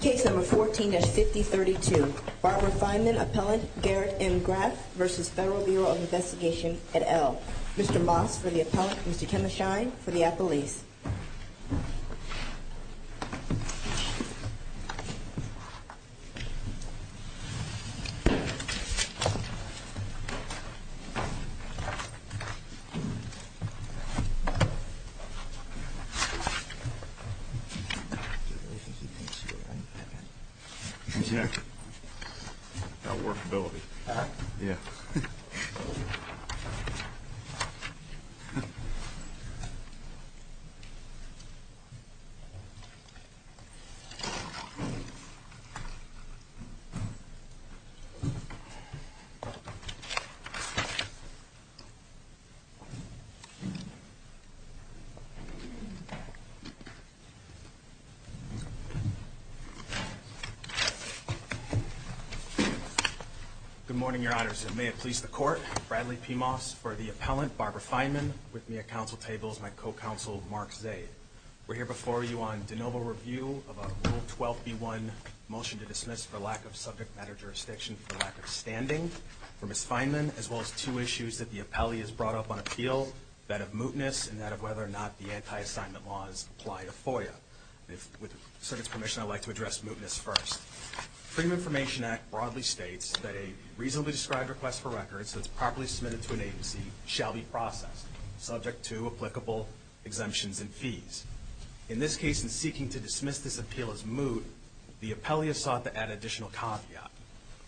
Case number 14-5032. Barbara Feinman, appellant, Garrett M. Graf v. Federal Bureau of Investigation, et al. Mr. Moss for the appellant, Mr. Kenneth Shine for the appellees. Your relationship with Mr. Feinman? Yeah. About workability. Yeah. Good morning, your honors. May it please the court. Bradley P. Moss for the appellant, Barbara Feinman. With me at council table is my co-counsel, Mark Zaid. We're here before you on de novo review of a Rule 12b-1 motion to dismiss for lack of subject matter jurisdiction for lack of standing for Ms. Feinman, as well as two issues that the appellee has brought up on appeal, that of mootness and that of whether or not the anti-assignment laws apply to FOIA. With the circuit's permission, I'd like to address mootness first. Freedom of Information Act broadly states that a reasonably described request for records that's properly submitted to an agency shall be processed, subject to applicable exemptions and fees. In this case, in seeking to dismiss this appeal as moot, the appellee is sought to add additional caveat.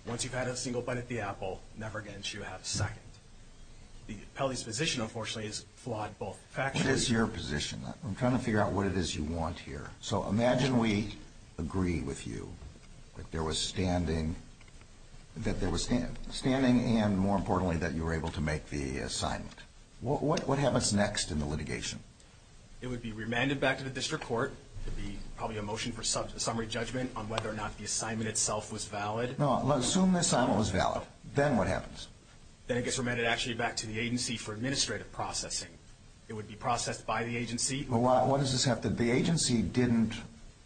Once you've had a single bite at the apple, never again should you have a second. The appellee's position, unfortunately, is flawed both factually... So imagine we agree with you that there was standing and, more importantly, that you were able to make the assignment. What happens next in the litigation? It would be remanded back to the district court. It would be probably a motion for summary judgment on whether or not the assignment itself was valid. Assume the assignment was valid. Then what happens? Then it gets remanded actually back to the agency for administrative processing. It would be processed by the agency. What does this have to do? The agency didn't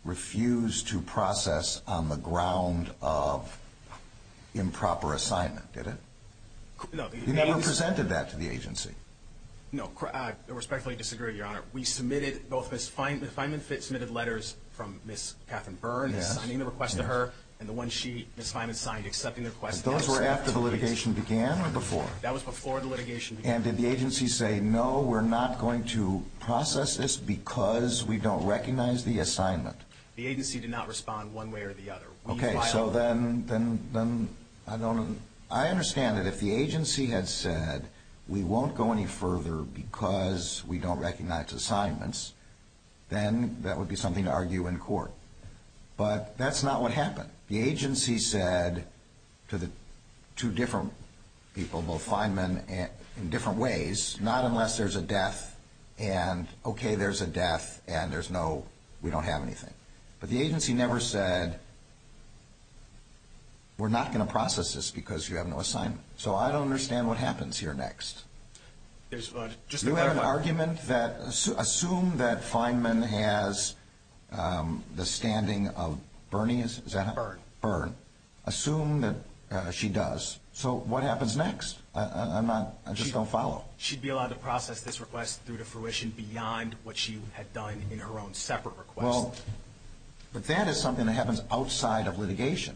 refuse to process on the ground of improper assignment, did it? No. You never presented that to the agency? No. I respectfully disagree, Your Honor. We submitted both Ms. Fineman's submitted letters from Ms. Kathryn Byrne, signing the request to her, and the one Ms. Fineman signed, accepting the request. Those were after the litigation began or before? That was before the litigation began. And did the agency say, no, we're not going to process this because we don't recognize the assignment? The agency did not respond one way or the other. Okay, so then I understand that if the agency had said, we won't go any further because we don't recognize assignments, then that would be something to argue in court. But that's not what happened. The agency said to the two different people, both Fineman in different ways, not unless there's a death and, okay, there's a death and there's no, we don't have anything. But the agency never said, we're not going to process this because you have no assignment. So I don't understand what happens here next. You have an argument that assume that Fineman has the standing of Byrne. Assume that she does. So what happens next? I'm not, I just don't follow. She'd be allowed to process this request through to fruition beyond what she had done in her own separate request.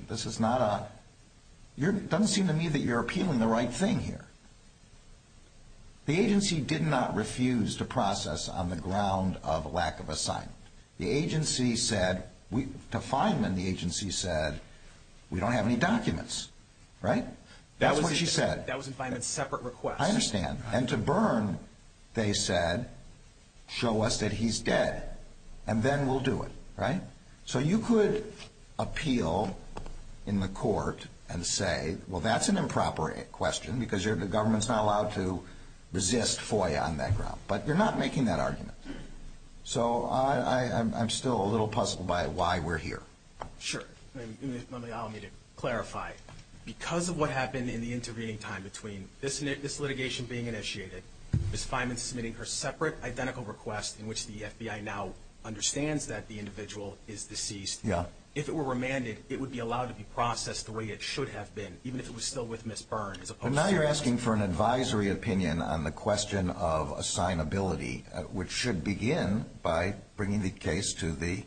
This is not a, doesn't seem to me that you're appealing the right thing here. The agency did not refuse to process on the ground of lack of assignment. The agency said, to Fineman, the agency said, we don't have any documents, right? That's what she said. That was in Fineman's separate request. I understand. And to Byrne, they said, show us that he's dead and then we'll do it, right? So you could appeal in the court and say, well, that's an improper question because the government's not allowed to resist FOIA on that ground. But you're not making that argument. So I'm still a little puzzled by why we're here. Sure. Let me, I'll need to clarify. Because of what happened in the intervening time between this litigation being initiated, Ms. Fineman submitting her separate identical request in which the FBI now understands that the individual is deceased. Yeah. If it were remanded, it would be allowed to be processed the way it should have been, even if it was still with Ms. Byrne. But now you're asking for an advisory opinion on the question of assignability, which should begin by bringing the case to the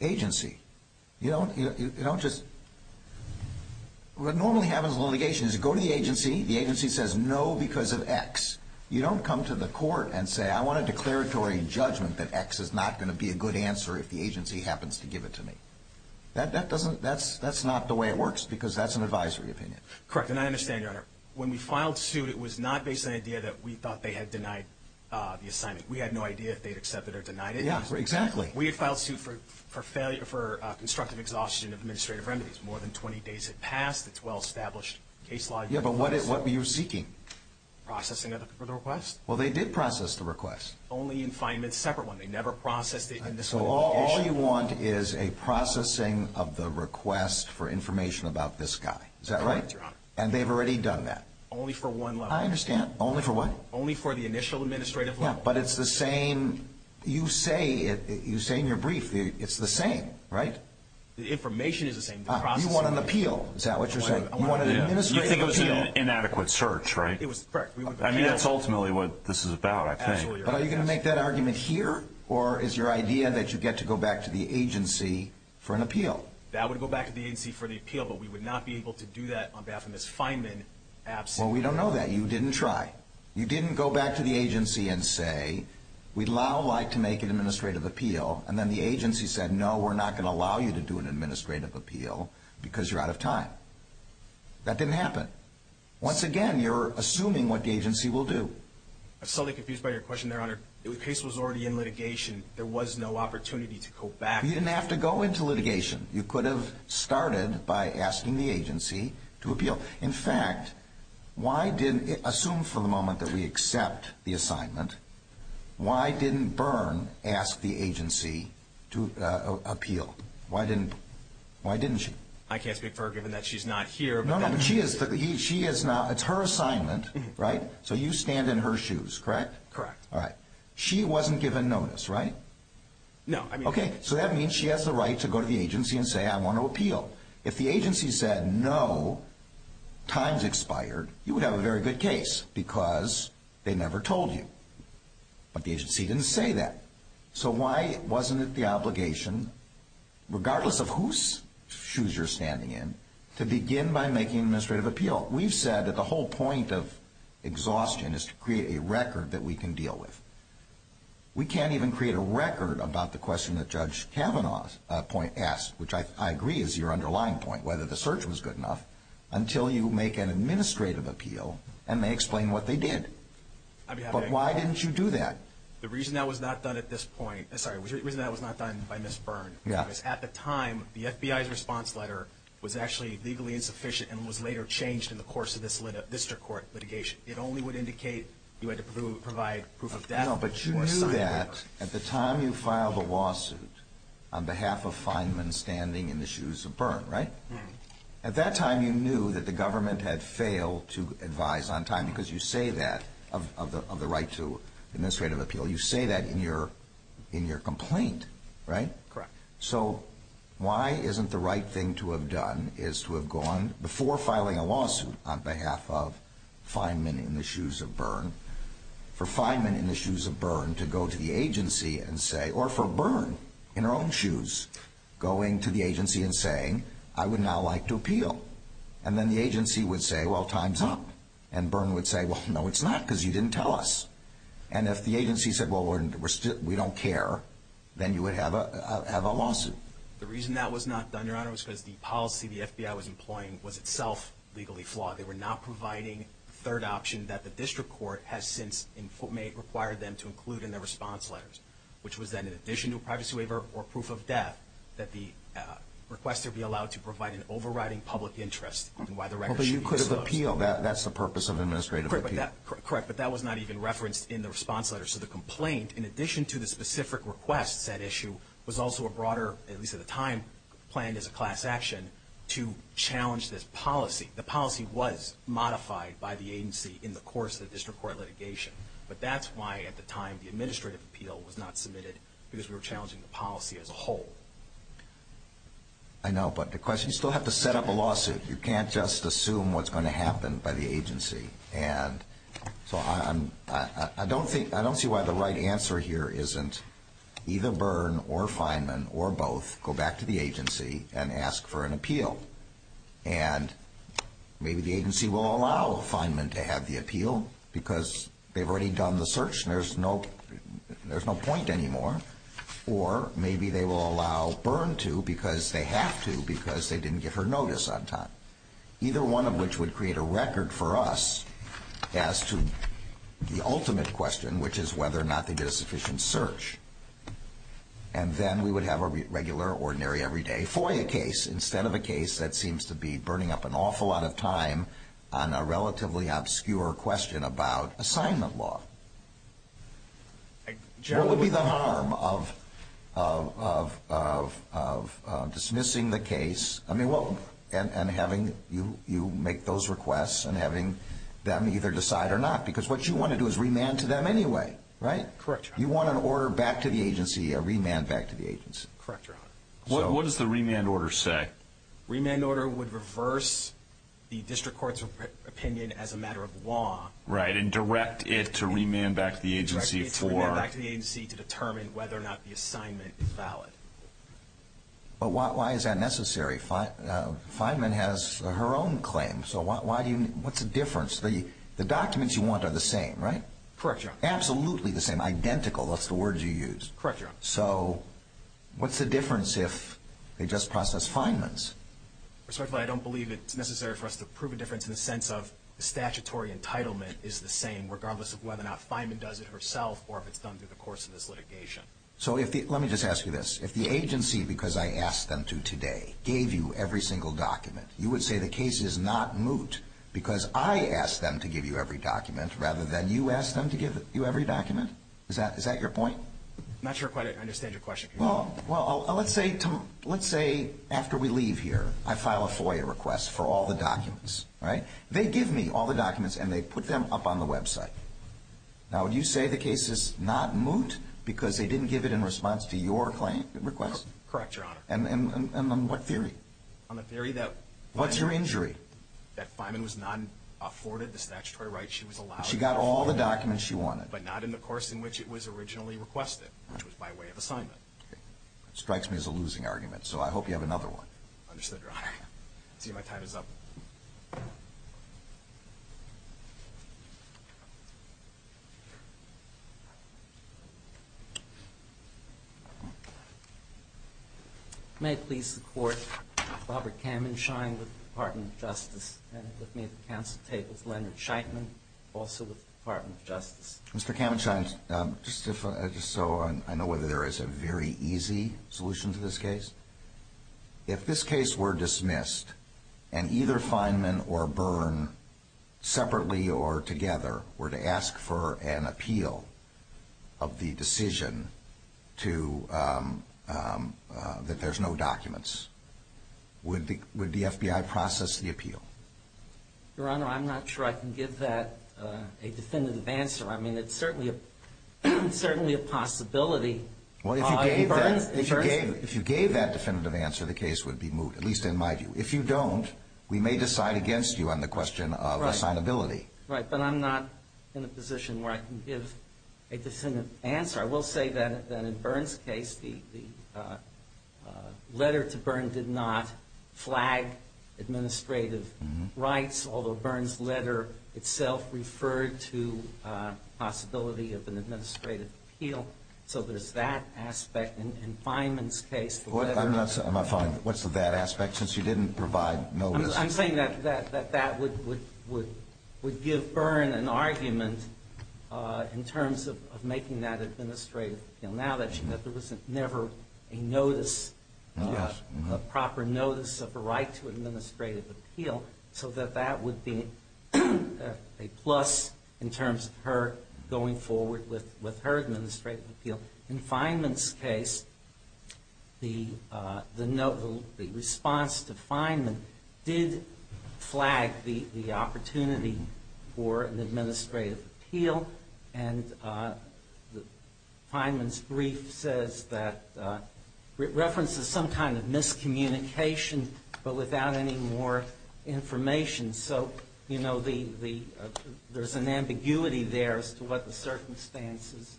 agency. You don't just, what normally happens in litigation is you go to the agency, the agency says no because of X. You don't come to the court and say I want a declaratory judgment that X is not going to be a good answer if the agency happens to give it to me. That doesn't, that's not the way it works because that's an advisory opinion. Correct. And I understand, Your Honor. When we filed suit, it was not based on the idea that we thought they had denied the assignment. We had no idea if they had accepted or denied it. Yeah, exactly. We had filed suit for constructive exhaustion of administrative remedies. More than 20 days had passed. It's a well-established case law. Yeah, but what were you seeking? Processing of the request. Well, they did process the request. Only in fine and separate one. They never processed it in this way. So all you want is a processing of the request for information about this guy. Is that right? That's correct, Your Honor. And they've already done that? Only for one level. I understand. Only for what? Only for the initial administrative level. Yeah, but it's the same, you say in your brief, it's the same, right? The information is the same. You want an appeal. Is that what you're saying? You want an administrative appeal. You think it was an inadequate search, right? It was, correct. I mean, that's ultimately what this is about, I think. But are you going to make that argument here, or is your idea that you get to go back to the agency for an appeal? That would go back to the agency for the appeal, but we would not be able to do that on behalf of Ms. Fineman. Well, we don't know that. You didn't try. You didn't go back to the agency and say, we'd now like to make an administrative appeal, and then the agency said, no, we're not going to allow you to do an administrative appeal because you're out of time. That didn't happen. Once again, you're assuming what the agency will do. I'm slightly confused by your question, Your Honor. The case was already in litigation. There was no opportunity to go back. You didn't have to go into litigation. You could have started by asking the agency to appeal. In fact, assume for the moment that we accept the assignment, why didn't Byrne ask the agency to appeal? Why didn't she? I can't speak for her given that she's not here. No, no. She is not. It's her assignment, right? So you stand in her shoes, correct? Correct. All right. She wasn't given notice, right? No. Okay. So that means she has the right to go to the agency and say, I want to appeal. If the agency said, no, time's expired, you would have a very good case because they never told you. But the agency didn't say that. So why wasn't it the obligation, regardless of whose shoes you're standing in, to begin by making an administrative appeal? We've said that the whole point of exhaustion is to create a record that we can deal with. We can't even create a record about the question that Judge Kavanaugh asked, which I agree is your underlying point, whether the search was good enough, until you make an administrative appeal and they explain what they did. But why didn't you do that? The reason that was not done at this point – sorry, the reason that was not done by Ms. Byrne was at the time the FBI's response letter was actually legally insufficient and was later changed in the course of this district court litigation. It only would indicate you had to provide proof of death. No, but you knew that at the time you filed the lawsuit on behalf of Feynman standing in the shoes of Byrne, right? At that time you knew that the government had failed to advise on time because you say that of the right to administrative appeal. You say that in your complaint, right? Correct. So why isn't the right thing to have done is to have gone, before filing a lawsuit on behalf of Feynman in the shoes of Byrne, for Feynman in the shoes of Byrne to go to the agency and say – or for Byrne in her own shoes going to the agency and saying, I would now like to appeal. And then the agency would say, well, time's up. And Byrne would say, well, no, it's not because you didn't tell us. And if the agency said, well, we don't care, then you would have a lawsuit. The reason that was not done, Your Honor, was because the policy the FBI was employing was itself legally flawed. They were not providing the third option that the district court has since required them to include in their response letters, which was that in addition to a privacy waiver or proof of death, that the requester be allowed to provide an overriding public interest in why the record should be disclosed. But you could have appealed. That's the purpose of administrative appeal. Correct. But that was not even referenced in the response letter. So the complaint, in addition to the specific request, said issue, was also a broader, at least at the time, planned as a class action, to challenge this policy. The policy was modified by the agency in the course of the district court litigation. But that's why at the time the administrative appeal was not submitted, because we were challenging the policy as a whole. I know. But the question is, you still have to set up a lawsuit. You can't just assume what's going to happen by the agency. And so I don't see why the right answer here isn't either Byrne or Fineman or both go back to the agency and ask for an appeal. And maybe the agency will allow Fineman to have the appeal because they've already done the search and there's no point anymore. Or maybe they will allow Byrne to because they have to because they didn't give her notice on time. Either one of which would create a record for us as to the ultimate question, which is whether or not they did a sufficient search. And then we would have a regular, ordinary, everyday FOIA case instead of a case that seems to be burning up an awful lot of time on a relatively obscure question about assignment law. What would be the harm of dismissing the case and having you make those requests and having them either decide or not? Because what you want to do is remand to them anyway, right? Correct, Your Honor. You want an order back to the agency, a remand back to the agency. Correct, Your Honor. What does the remand order say? Remand order would reverse the district court's opinion as a matter of law. Right, and direct it to remand back to the agency for... Direct it to remand back to the agency to determine whether or not the assignment is valid. But why is that necessary? Feynman has her own claim, so what's the difference? The documents you want are the same, right? Correct, Your Honor. Absolutely the same, identical, that's the word you used. Correct, Your Honor. So what's the difference if they just process Feynman's? Respectfully, I don't believe it's necessary for us to prove a difference in the sense of statutory entitlement is the same regardless of whether or not Feynman does it herself or if it's done through the course of this litigation. So let me just ask you this. If the agency, because I asked them to today, gave you every single document, you would say the case is not moot because I asked them to give you every document rather than you asked them to give you every document? Is that your point? I'm not sure I quite understand your question. Well, let's say after we leave here I file a FOIA request for all the documents, right? They give me all the documents and they put them up on the website. Now, would you say the case is not moot because they didn't give it in response to your request? Correct, Your Honor. And on what theory? On the theory that Feynman was not afforded the statutory rights she was allowed. She got all the documents she wanted. But not in the course in which it was originally requested, which was by way of assignment. Okay. That strikes me as a losing argument, so I hope you have another one. Understood, Your Honor. I see my time is up. May I please support Robert Kamenschein with the Department of Justice and with me at the Mr. Kamenschein, just so I know whether there is a very easy solution to this case, if this case were dismissed and either Feynman or Byrne separately or together were to ask for an appeal of the decision that there's no documents, would the FBI process the appeal? Your Honor, I'm not sure I can give that a definitive answer. I mean, it's certainly a possibility. Well, if you gave that definitive answer, the case would be moved, at least in my view. If you don't, we may decide against you on the question of assignability. Right, but I'm not in a position where I can give a definitive answer. I will say that in Byrne's case, the letter to Byrne did not flag administrative rights, although Byrne's letter itself referred to a possibility of an administrative appeal. So there's that aspect. In Feynman's case, the letter to Byrne. What's the that aspect, since you didn't provide notice? I'm saying that that would give Byrne an argument in terms of making that administrative appeal. Now that there was never a notice, a proper notice of a right to administrative appeal, so that that would be a plus in terms of her going forward with her administrative appeal. In Feynman's case, the response to Feynman did flag the opportunity for an administrative appeal, and Feynman's brief says that it references some kind of miscommunication, but without any more information. So, you know, there's an ambiguity there as to what the circumstances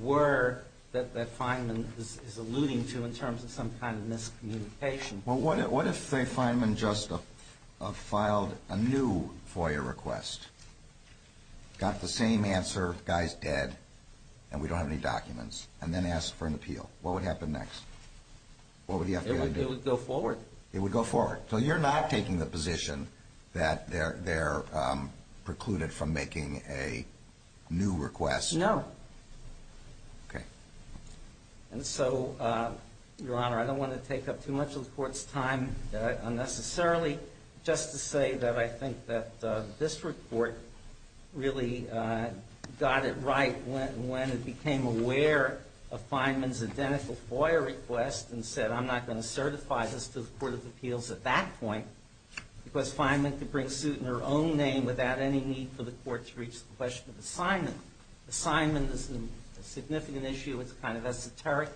were that Feynman is alluding to in terms of some kind of miscommunication. Well, what if Feynman just filed a new FOIA request, got the same answer, guy's dead, and we don't have any documents, and then asked for an appeal? What would happen next? It would go forward. It would go forward. So you're not taking the position that they're precluded from making a new request? No. Okay. And so, Your Honor, I don't want to take up too much of the Court's time unnecessarily, just to say that I think that this report really got it right when it became aware of Feynman's identical FOIA request and said, I'm not going to certify this to the Court of Appeals at that point, because Feynman could bring suit in her own name without any need for the Court to reach the question of assignment. Assignment is a significant issue. It's kind of esoteric.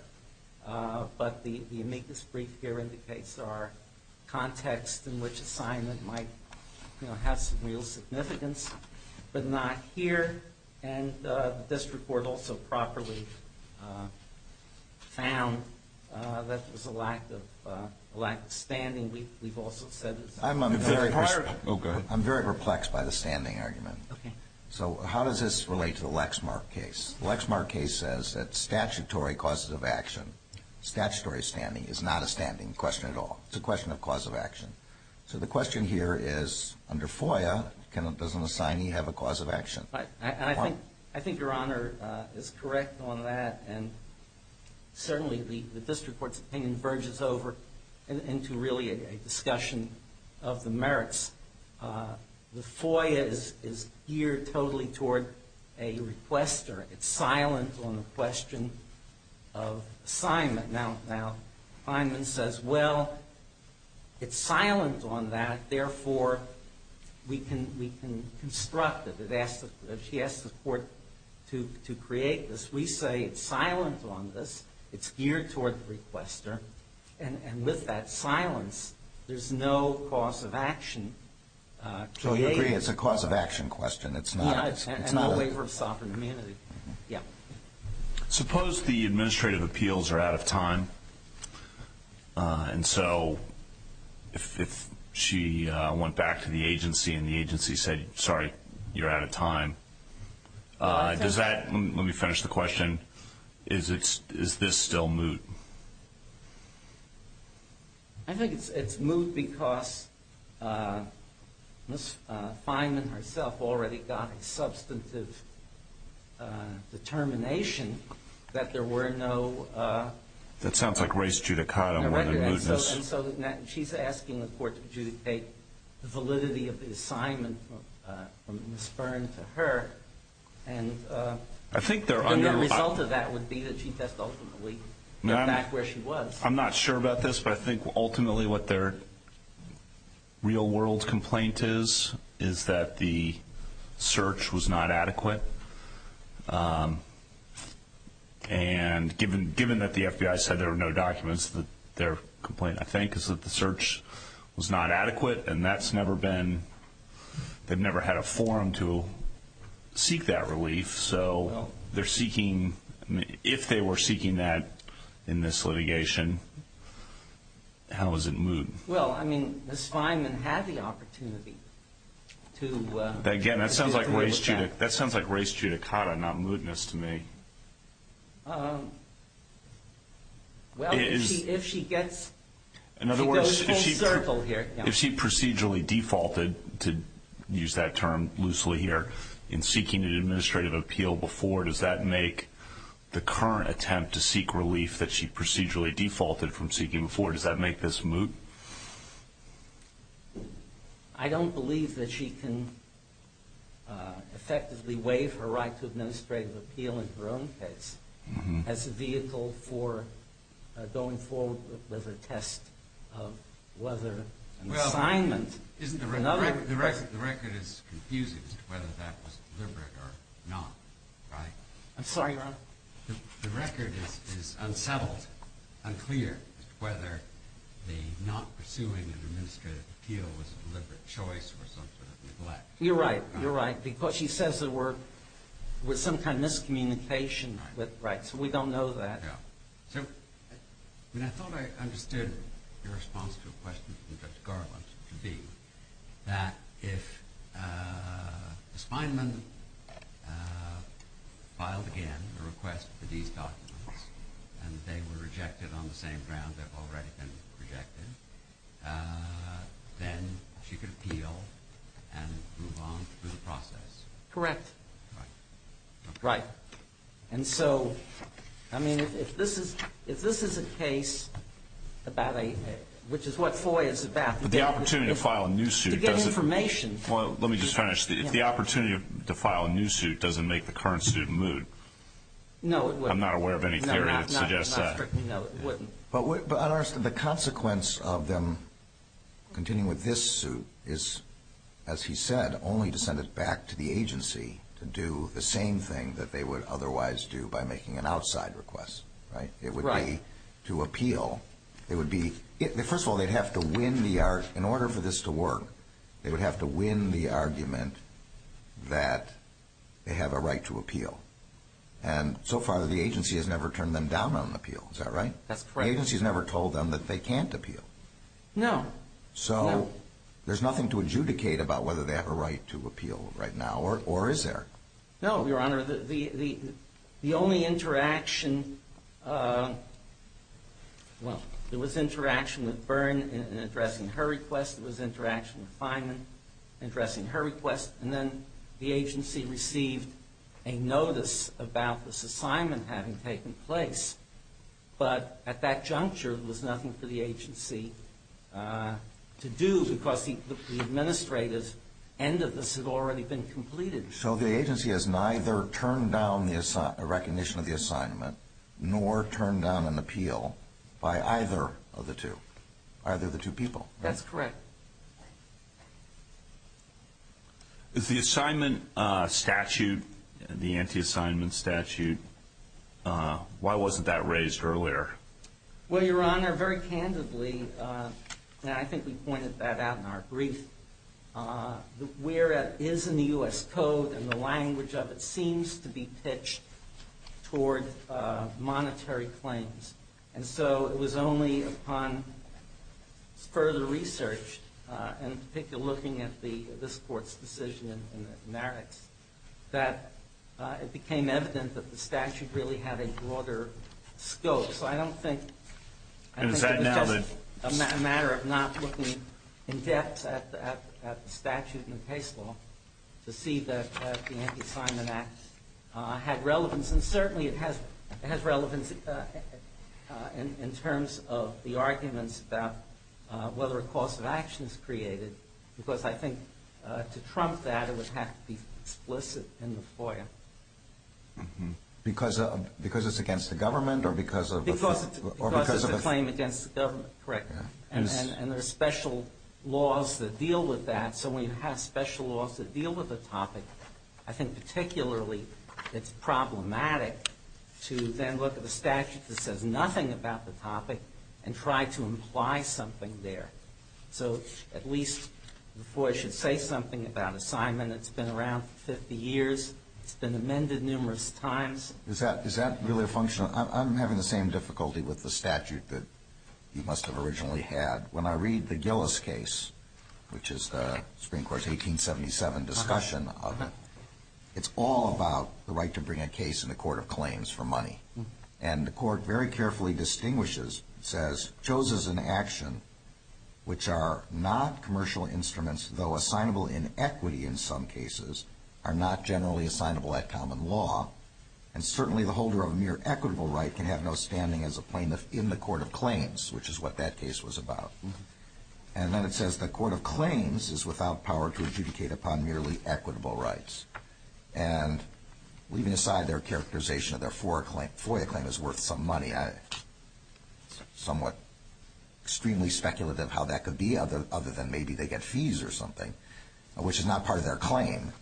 But the amicus brief here indicates our context in which assignment might have some real significance, but not here. And the district court also properly found that there was a lack of standing. We've also said it's a requirement. I'm very perplexed by the standing argument. Okay. So how does this relate to the Lexmark case? The Lexmark case says that statutory causes of action, statutory standing, is not a standing question at all. It's a question of cause of action. So the question here is, under FOIA, does an assignee have a cause of action? I think Your Honor is correct on that, and certainly the district court's opinion verges over into really a discussion of the merits. The FOIA is geared totally toward a requester. It's silent on the question of assignment. Now, Feynman says, well, it's silent on that. Therefore, we can construct it. She asks the Court to create this. We say it's silent on this. It's geared toward the requester. And with that silence, there's no cause of action created. So you agree it's a cause of action question. It's not a waiver of sovereign immunity. Yeah. Suppose the administrative appeals are out of time. And so if she went back to the agency and the agency said, sorry, you're out of time, does that – let me finish the question. Is this still moot? I think it's moot because Ms. Feynman herself already got a substantive determination that there were no – That sounds like race judicata more than mootness. And so she's asking the Court to adjudicate the validity of the assignment from Ms. Byrne to her. And the result of that would be that she ultimately got back where she was. I'm not sure about this, but I think ultimately what their real-world complaint is is that the search was not adequate. And given that the FBI said there were no documents, their complaint, I think, is that the search was not adequate. And that's never been – they've never had a forum to seek that relief. So they're seeking – if they were seeking that in this litigation, how is it moot? Well, I mean, Ms. Feynman had the opportunity to – Again, that sounds like race judicata, not mootness to me. Well, if she gets – if she goes full circle here – In other words, if she procedurally defaulted, to use that term loosely here, in seeking an administrative appeal before, does that make the current attempt to seek relief that she procedurally defaulted from seeking before, does that make this moot? I don't believe that she can effectively waive her right to administrative appeal in her own case as a vehicle for going forward with a test of whether an assignment – Well, isn't the record – the record is confusing as to whether that was deliberate or not, right? The record is unsettled, unclear as to whether the not pursuing an administrative appeal was a deliberate choice or some sort of neglect. You're right. You're right. Because she says there were some kind of miscommunication. Right. So we don't know that. So I thought I understood your response to a question from Judge Garland to be that if Ms. Feynman filed again a request for these documents, and they were rejected on the same ground they've already been rejected, then she could appeal and move on through the process. Correct. Right. And so, I mean, if this is a case about a – which is what FOIA is about – But the opportunity to file a new suit doesn't – To get information. Well, let me just finish. If the opportunity to file a new suit doesn't make the current suit moot – No, it wouldn't. I'm not aware of any theory that suggests that. No, it wouldn't. But the consequence of them continuing with this suit is, as he said, only to send it back to the agency to do the same thing that they would otherwise do by making an outside request. Right. It would be to appeal. It would be – first of all, they'd have to win the – in order for this to work, they would have to win the argument that they have a right to appeal. And so far, the agency has never turned them down on an appeal. Is that right? That's correct. The agency has never told them that they can't appeal. No. So there's nothing to adjudicate about whether they have a right to appeal right now, or is there? No, Your Honor. The only interaction – well, there was interaction with Byrne in addressing her request. There was interaction with Fineman in addressing her request. And then the agency received a notice about this assignment having taken place. But at that juncture, there was nothing for the agency to do because the administrative end of this had already been completed. So the agency has neither turned down the – a recognition of the assignment nor turned down an appeal by either of the two – either of the two people. That's correct. The assignment statute, the anti-assignment statute, why wasn't that raised earlier? Well, Your Honor, very candidly – and I think we pointed that out in our brief – where it is in the U.S. Code and the language of it seems to be pitched toward monetary claims. And so it was only upon further research and particularly looking at this Court's decision in the merits that it became evident that the statute really had a broader scope. So I don't think – I think it was just a matter of not looking in depth at the statute in the case law to see that the anti-assignment act had relevance. And certainly it has relevance in terms of the arguments about whether a course of action is created. Because I think to trump that, it would have to be explicit in the FOIA. Because it's against the government or because of – Because it's a claim against the government, correct. And there are special laws that deal with that. So when you have special laws that deal with the topic, I think particularly it's problematic to then look at the statute that says nothing about the topic and try to imply something there. So at least the FOIA should say something about assignment. It's been around for 50 years. It's been amended numerous times. Is that really a function of – I'm having the same difficulty with the statute that you must have originally had. When I read the Gillis case, which is the Supreme Court's 1877 discussion of it, it's all about the right to bring a case in the court of claims for money. And the court very carefully distinguishes, says, chose as an action, which are not commercial instruments, though assignable in equity in some cases, are not generally assignable at common law. And certainly the holder of a mere equitable right can have no standing as a plaintiff in the court of claims, which is what that case was about. And then it says the court of claims is without power to adjudicate upon merely equitable rights. And leaving aside their characterization of their FOIA claim as worth some money, I'm somewhat extremely speculative how that could be other than maybe they get fees or something, which is not part of their claim.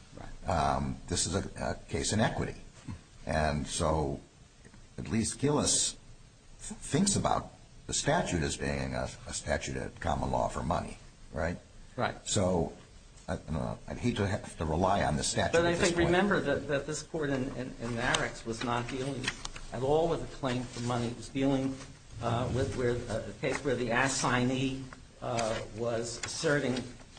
This is a case in equity. And so at least Gillis thinks about the statute as being a statute of common law for money, right? Right. So I'd hate to have to rely on the statute at this point. But I think remember that this court in Marek's was not dealing at all with a claim for money. It was dealing with a case where the assignee was asserting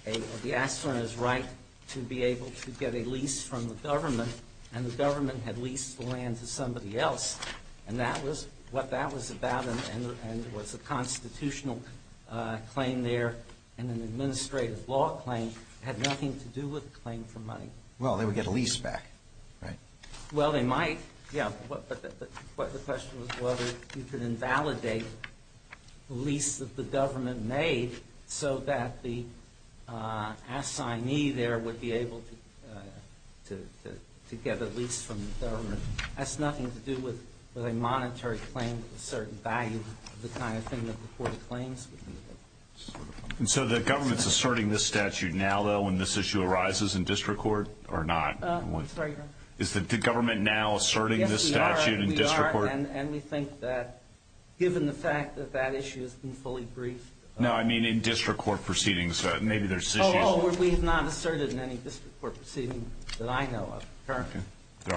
the assigner's right to be able to get a lease from the government, and the government had leased the land to somebody else. And that was what that was about, and it was a constitutional claim there and an administrative law claim. It had nothing to do with a claim for money. Well, they would get a lease back, right? Well, they might, yeah. But the question was whether you could invalidate the lease that the government made so that the assignee there would be able to get a lease from the government. That's nothing to do with a monetary claim with a certain value, the kind of thing that the court claims. And so the government's asserting this statute now, though, when this issue arises in district court or not? I'm sorry? Is the government now asserting this statute in district court? Yes, we are, and we think that given the fact that that issue has been fully briefed. No, I mean in district court proceedings, maybe there's issues. Oh, we have not asserted in any district court proceedings that I know of currently. There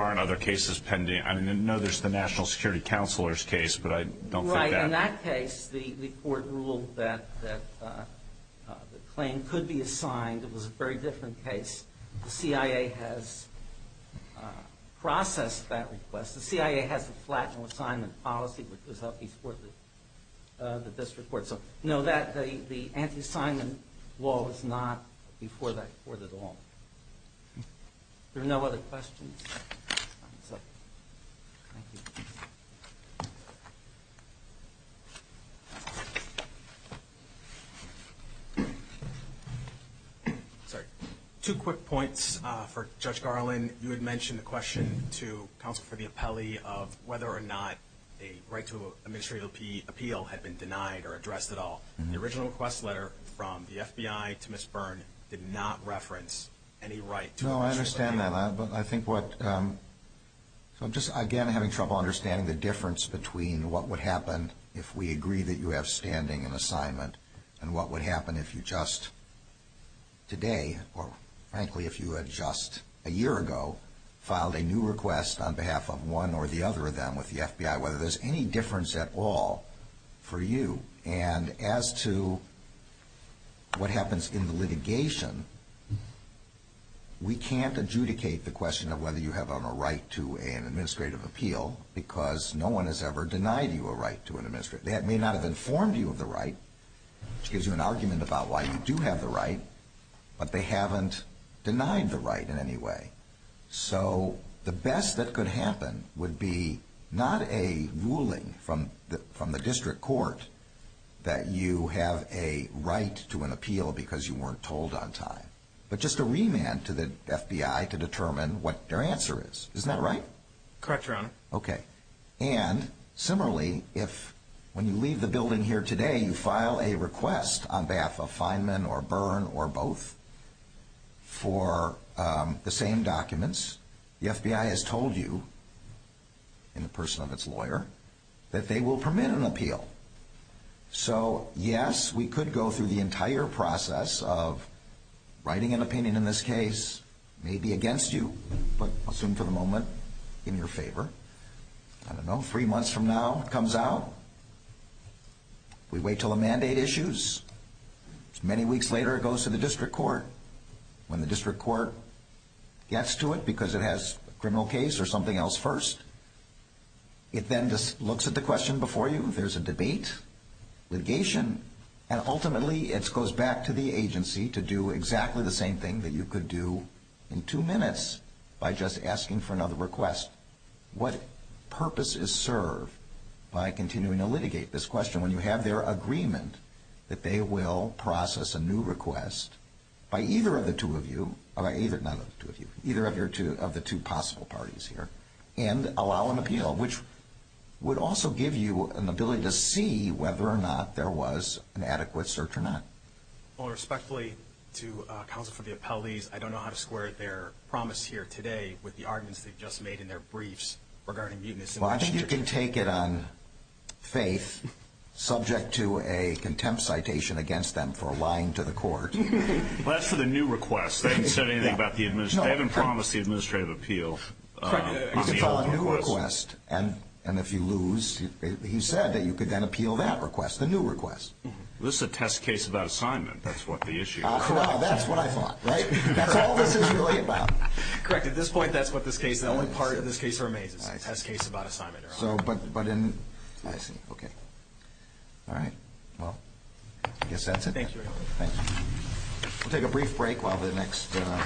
aren't other cases pending? I mean, no, there's the National Security Counselor's case, but I don't think that. Right, in that case, the court ruled that the claim could be assigned. It was a very different case. The CIA has processed that request. The CIA has a flat no assignment policy, which was up before the district court. So, no, the anti-assignment law was not before that court at all. There are no other questions? Sorry. Two quick points for Judge Garland. You had mentioned the question to counsel for the appellee of whether or not a right to administrative appeal had been denied or addressed at all. The original request letter from the FBI to Ms. Byrne did not reference any right to administrative appeal. No, I understand that, but I think what – I'm just, again, having trouble understanding the difference between what would happen if we agree that you have standing and assignment and what would happen if you just today, or frankly if you had just a year ago, filed a new request on behalf of one or the other of them with the FBI, whether there's any difference at all for you. And as to what happens in the litigation, we can't adjudicate the question of whether you have a right to an administrative appeal because no one has ever denied you a right to an administrative appeal. They may not have informed you of the right, which gives you an argument about why you do have the right, but they haven't denied the right in any way. So the best that could happen would be not a ruling from the district court that you have a right to an appeal because you weren't told on time, but just a remand to the FBI to determine what their answer is. Isn't that right? Correct, Your Honor. Okay. And similarly, if when you leave the building here today, you file a request on behalf of Feynman or Byrne or both for the same documents, the FBI has told you, in the person of its lawyer, that they will permit an appeal. So yes, we could go through the entire process of writing an opinion in this case, maybe against you, but I'll assume for the moment in your favor. I don't know, three months from now it comes out. We wait until a mandate issues. Many weeks later it goes to the district court. When the district court gets to it because it has a criminal case or something else first, it then looks at the question before you. There's a debate, litigation, and ultimately it goes back to the agency to do exactly the same thing that you could do in two minutes by just asking for another request. What purpose is served by continuing to litigate this question when you have their agreement that they will process a new request by either of the two of you, not by the two of you, either of the two possible parties here, and allow an appeal, which would also give you an ability to see whether or not there was an adequate search or not. Well, respectfully to counsel for the appellees, I don't know how to square their promise here today with the arguments they've just made in their briefs regarding mutiny. Well, I think you can take it on faith, subject to a contempt citation against them for lying to the court. Well, that's for the new request. They haven't said anything about the administration. They haven't promised the administrative appeal on the old request. It's a new request, and if you lose, he said that you could then appeal that request, the new request. This is a test case about assignment. That's what the issue is. Correct. That's what I thought, right? That's all this is really about. Correct. At this point, that's what this case is. The only part of this case remains. It's a test case about assignment. So, but in – I see. Okay. All right. Well, I guess that's it. Thank you, Your Honor. Thank you. We'll take a brief break while the next –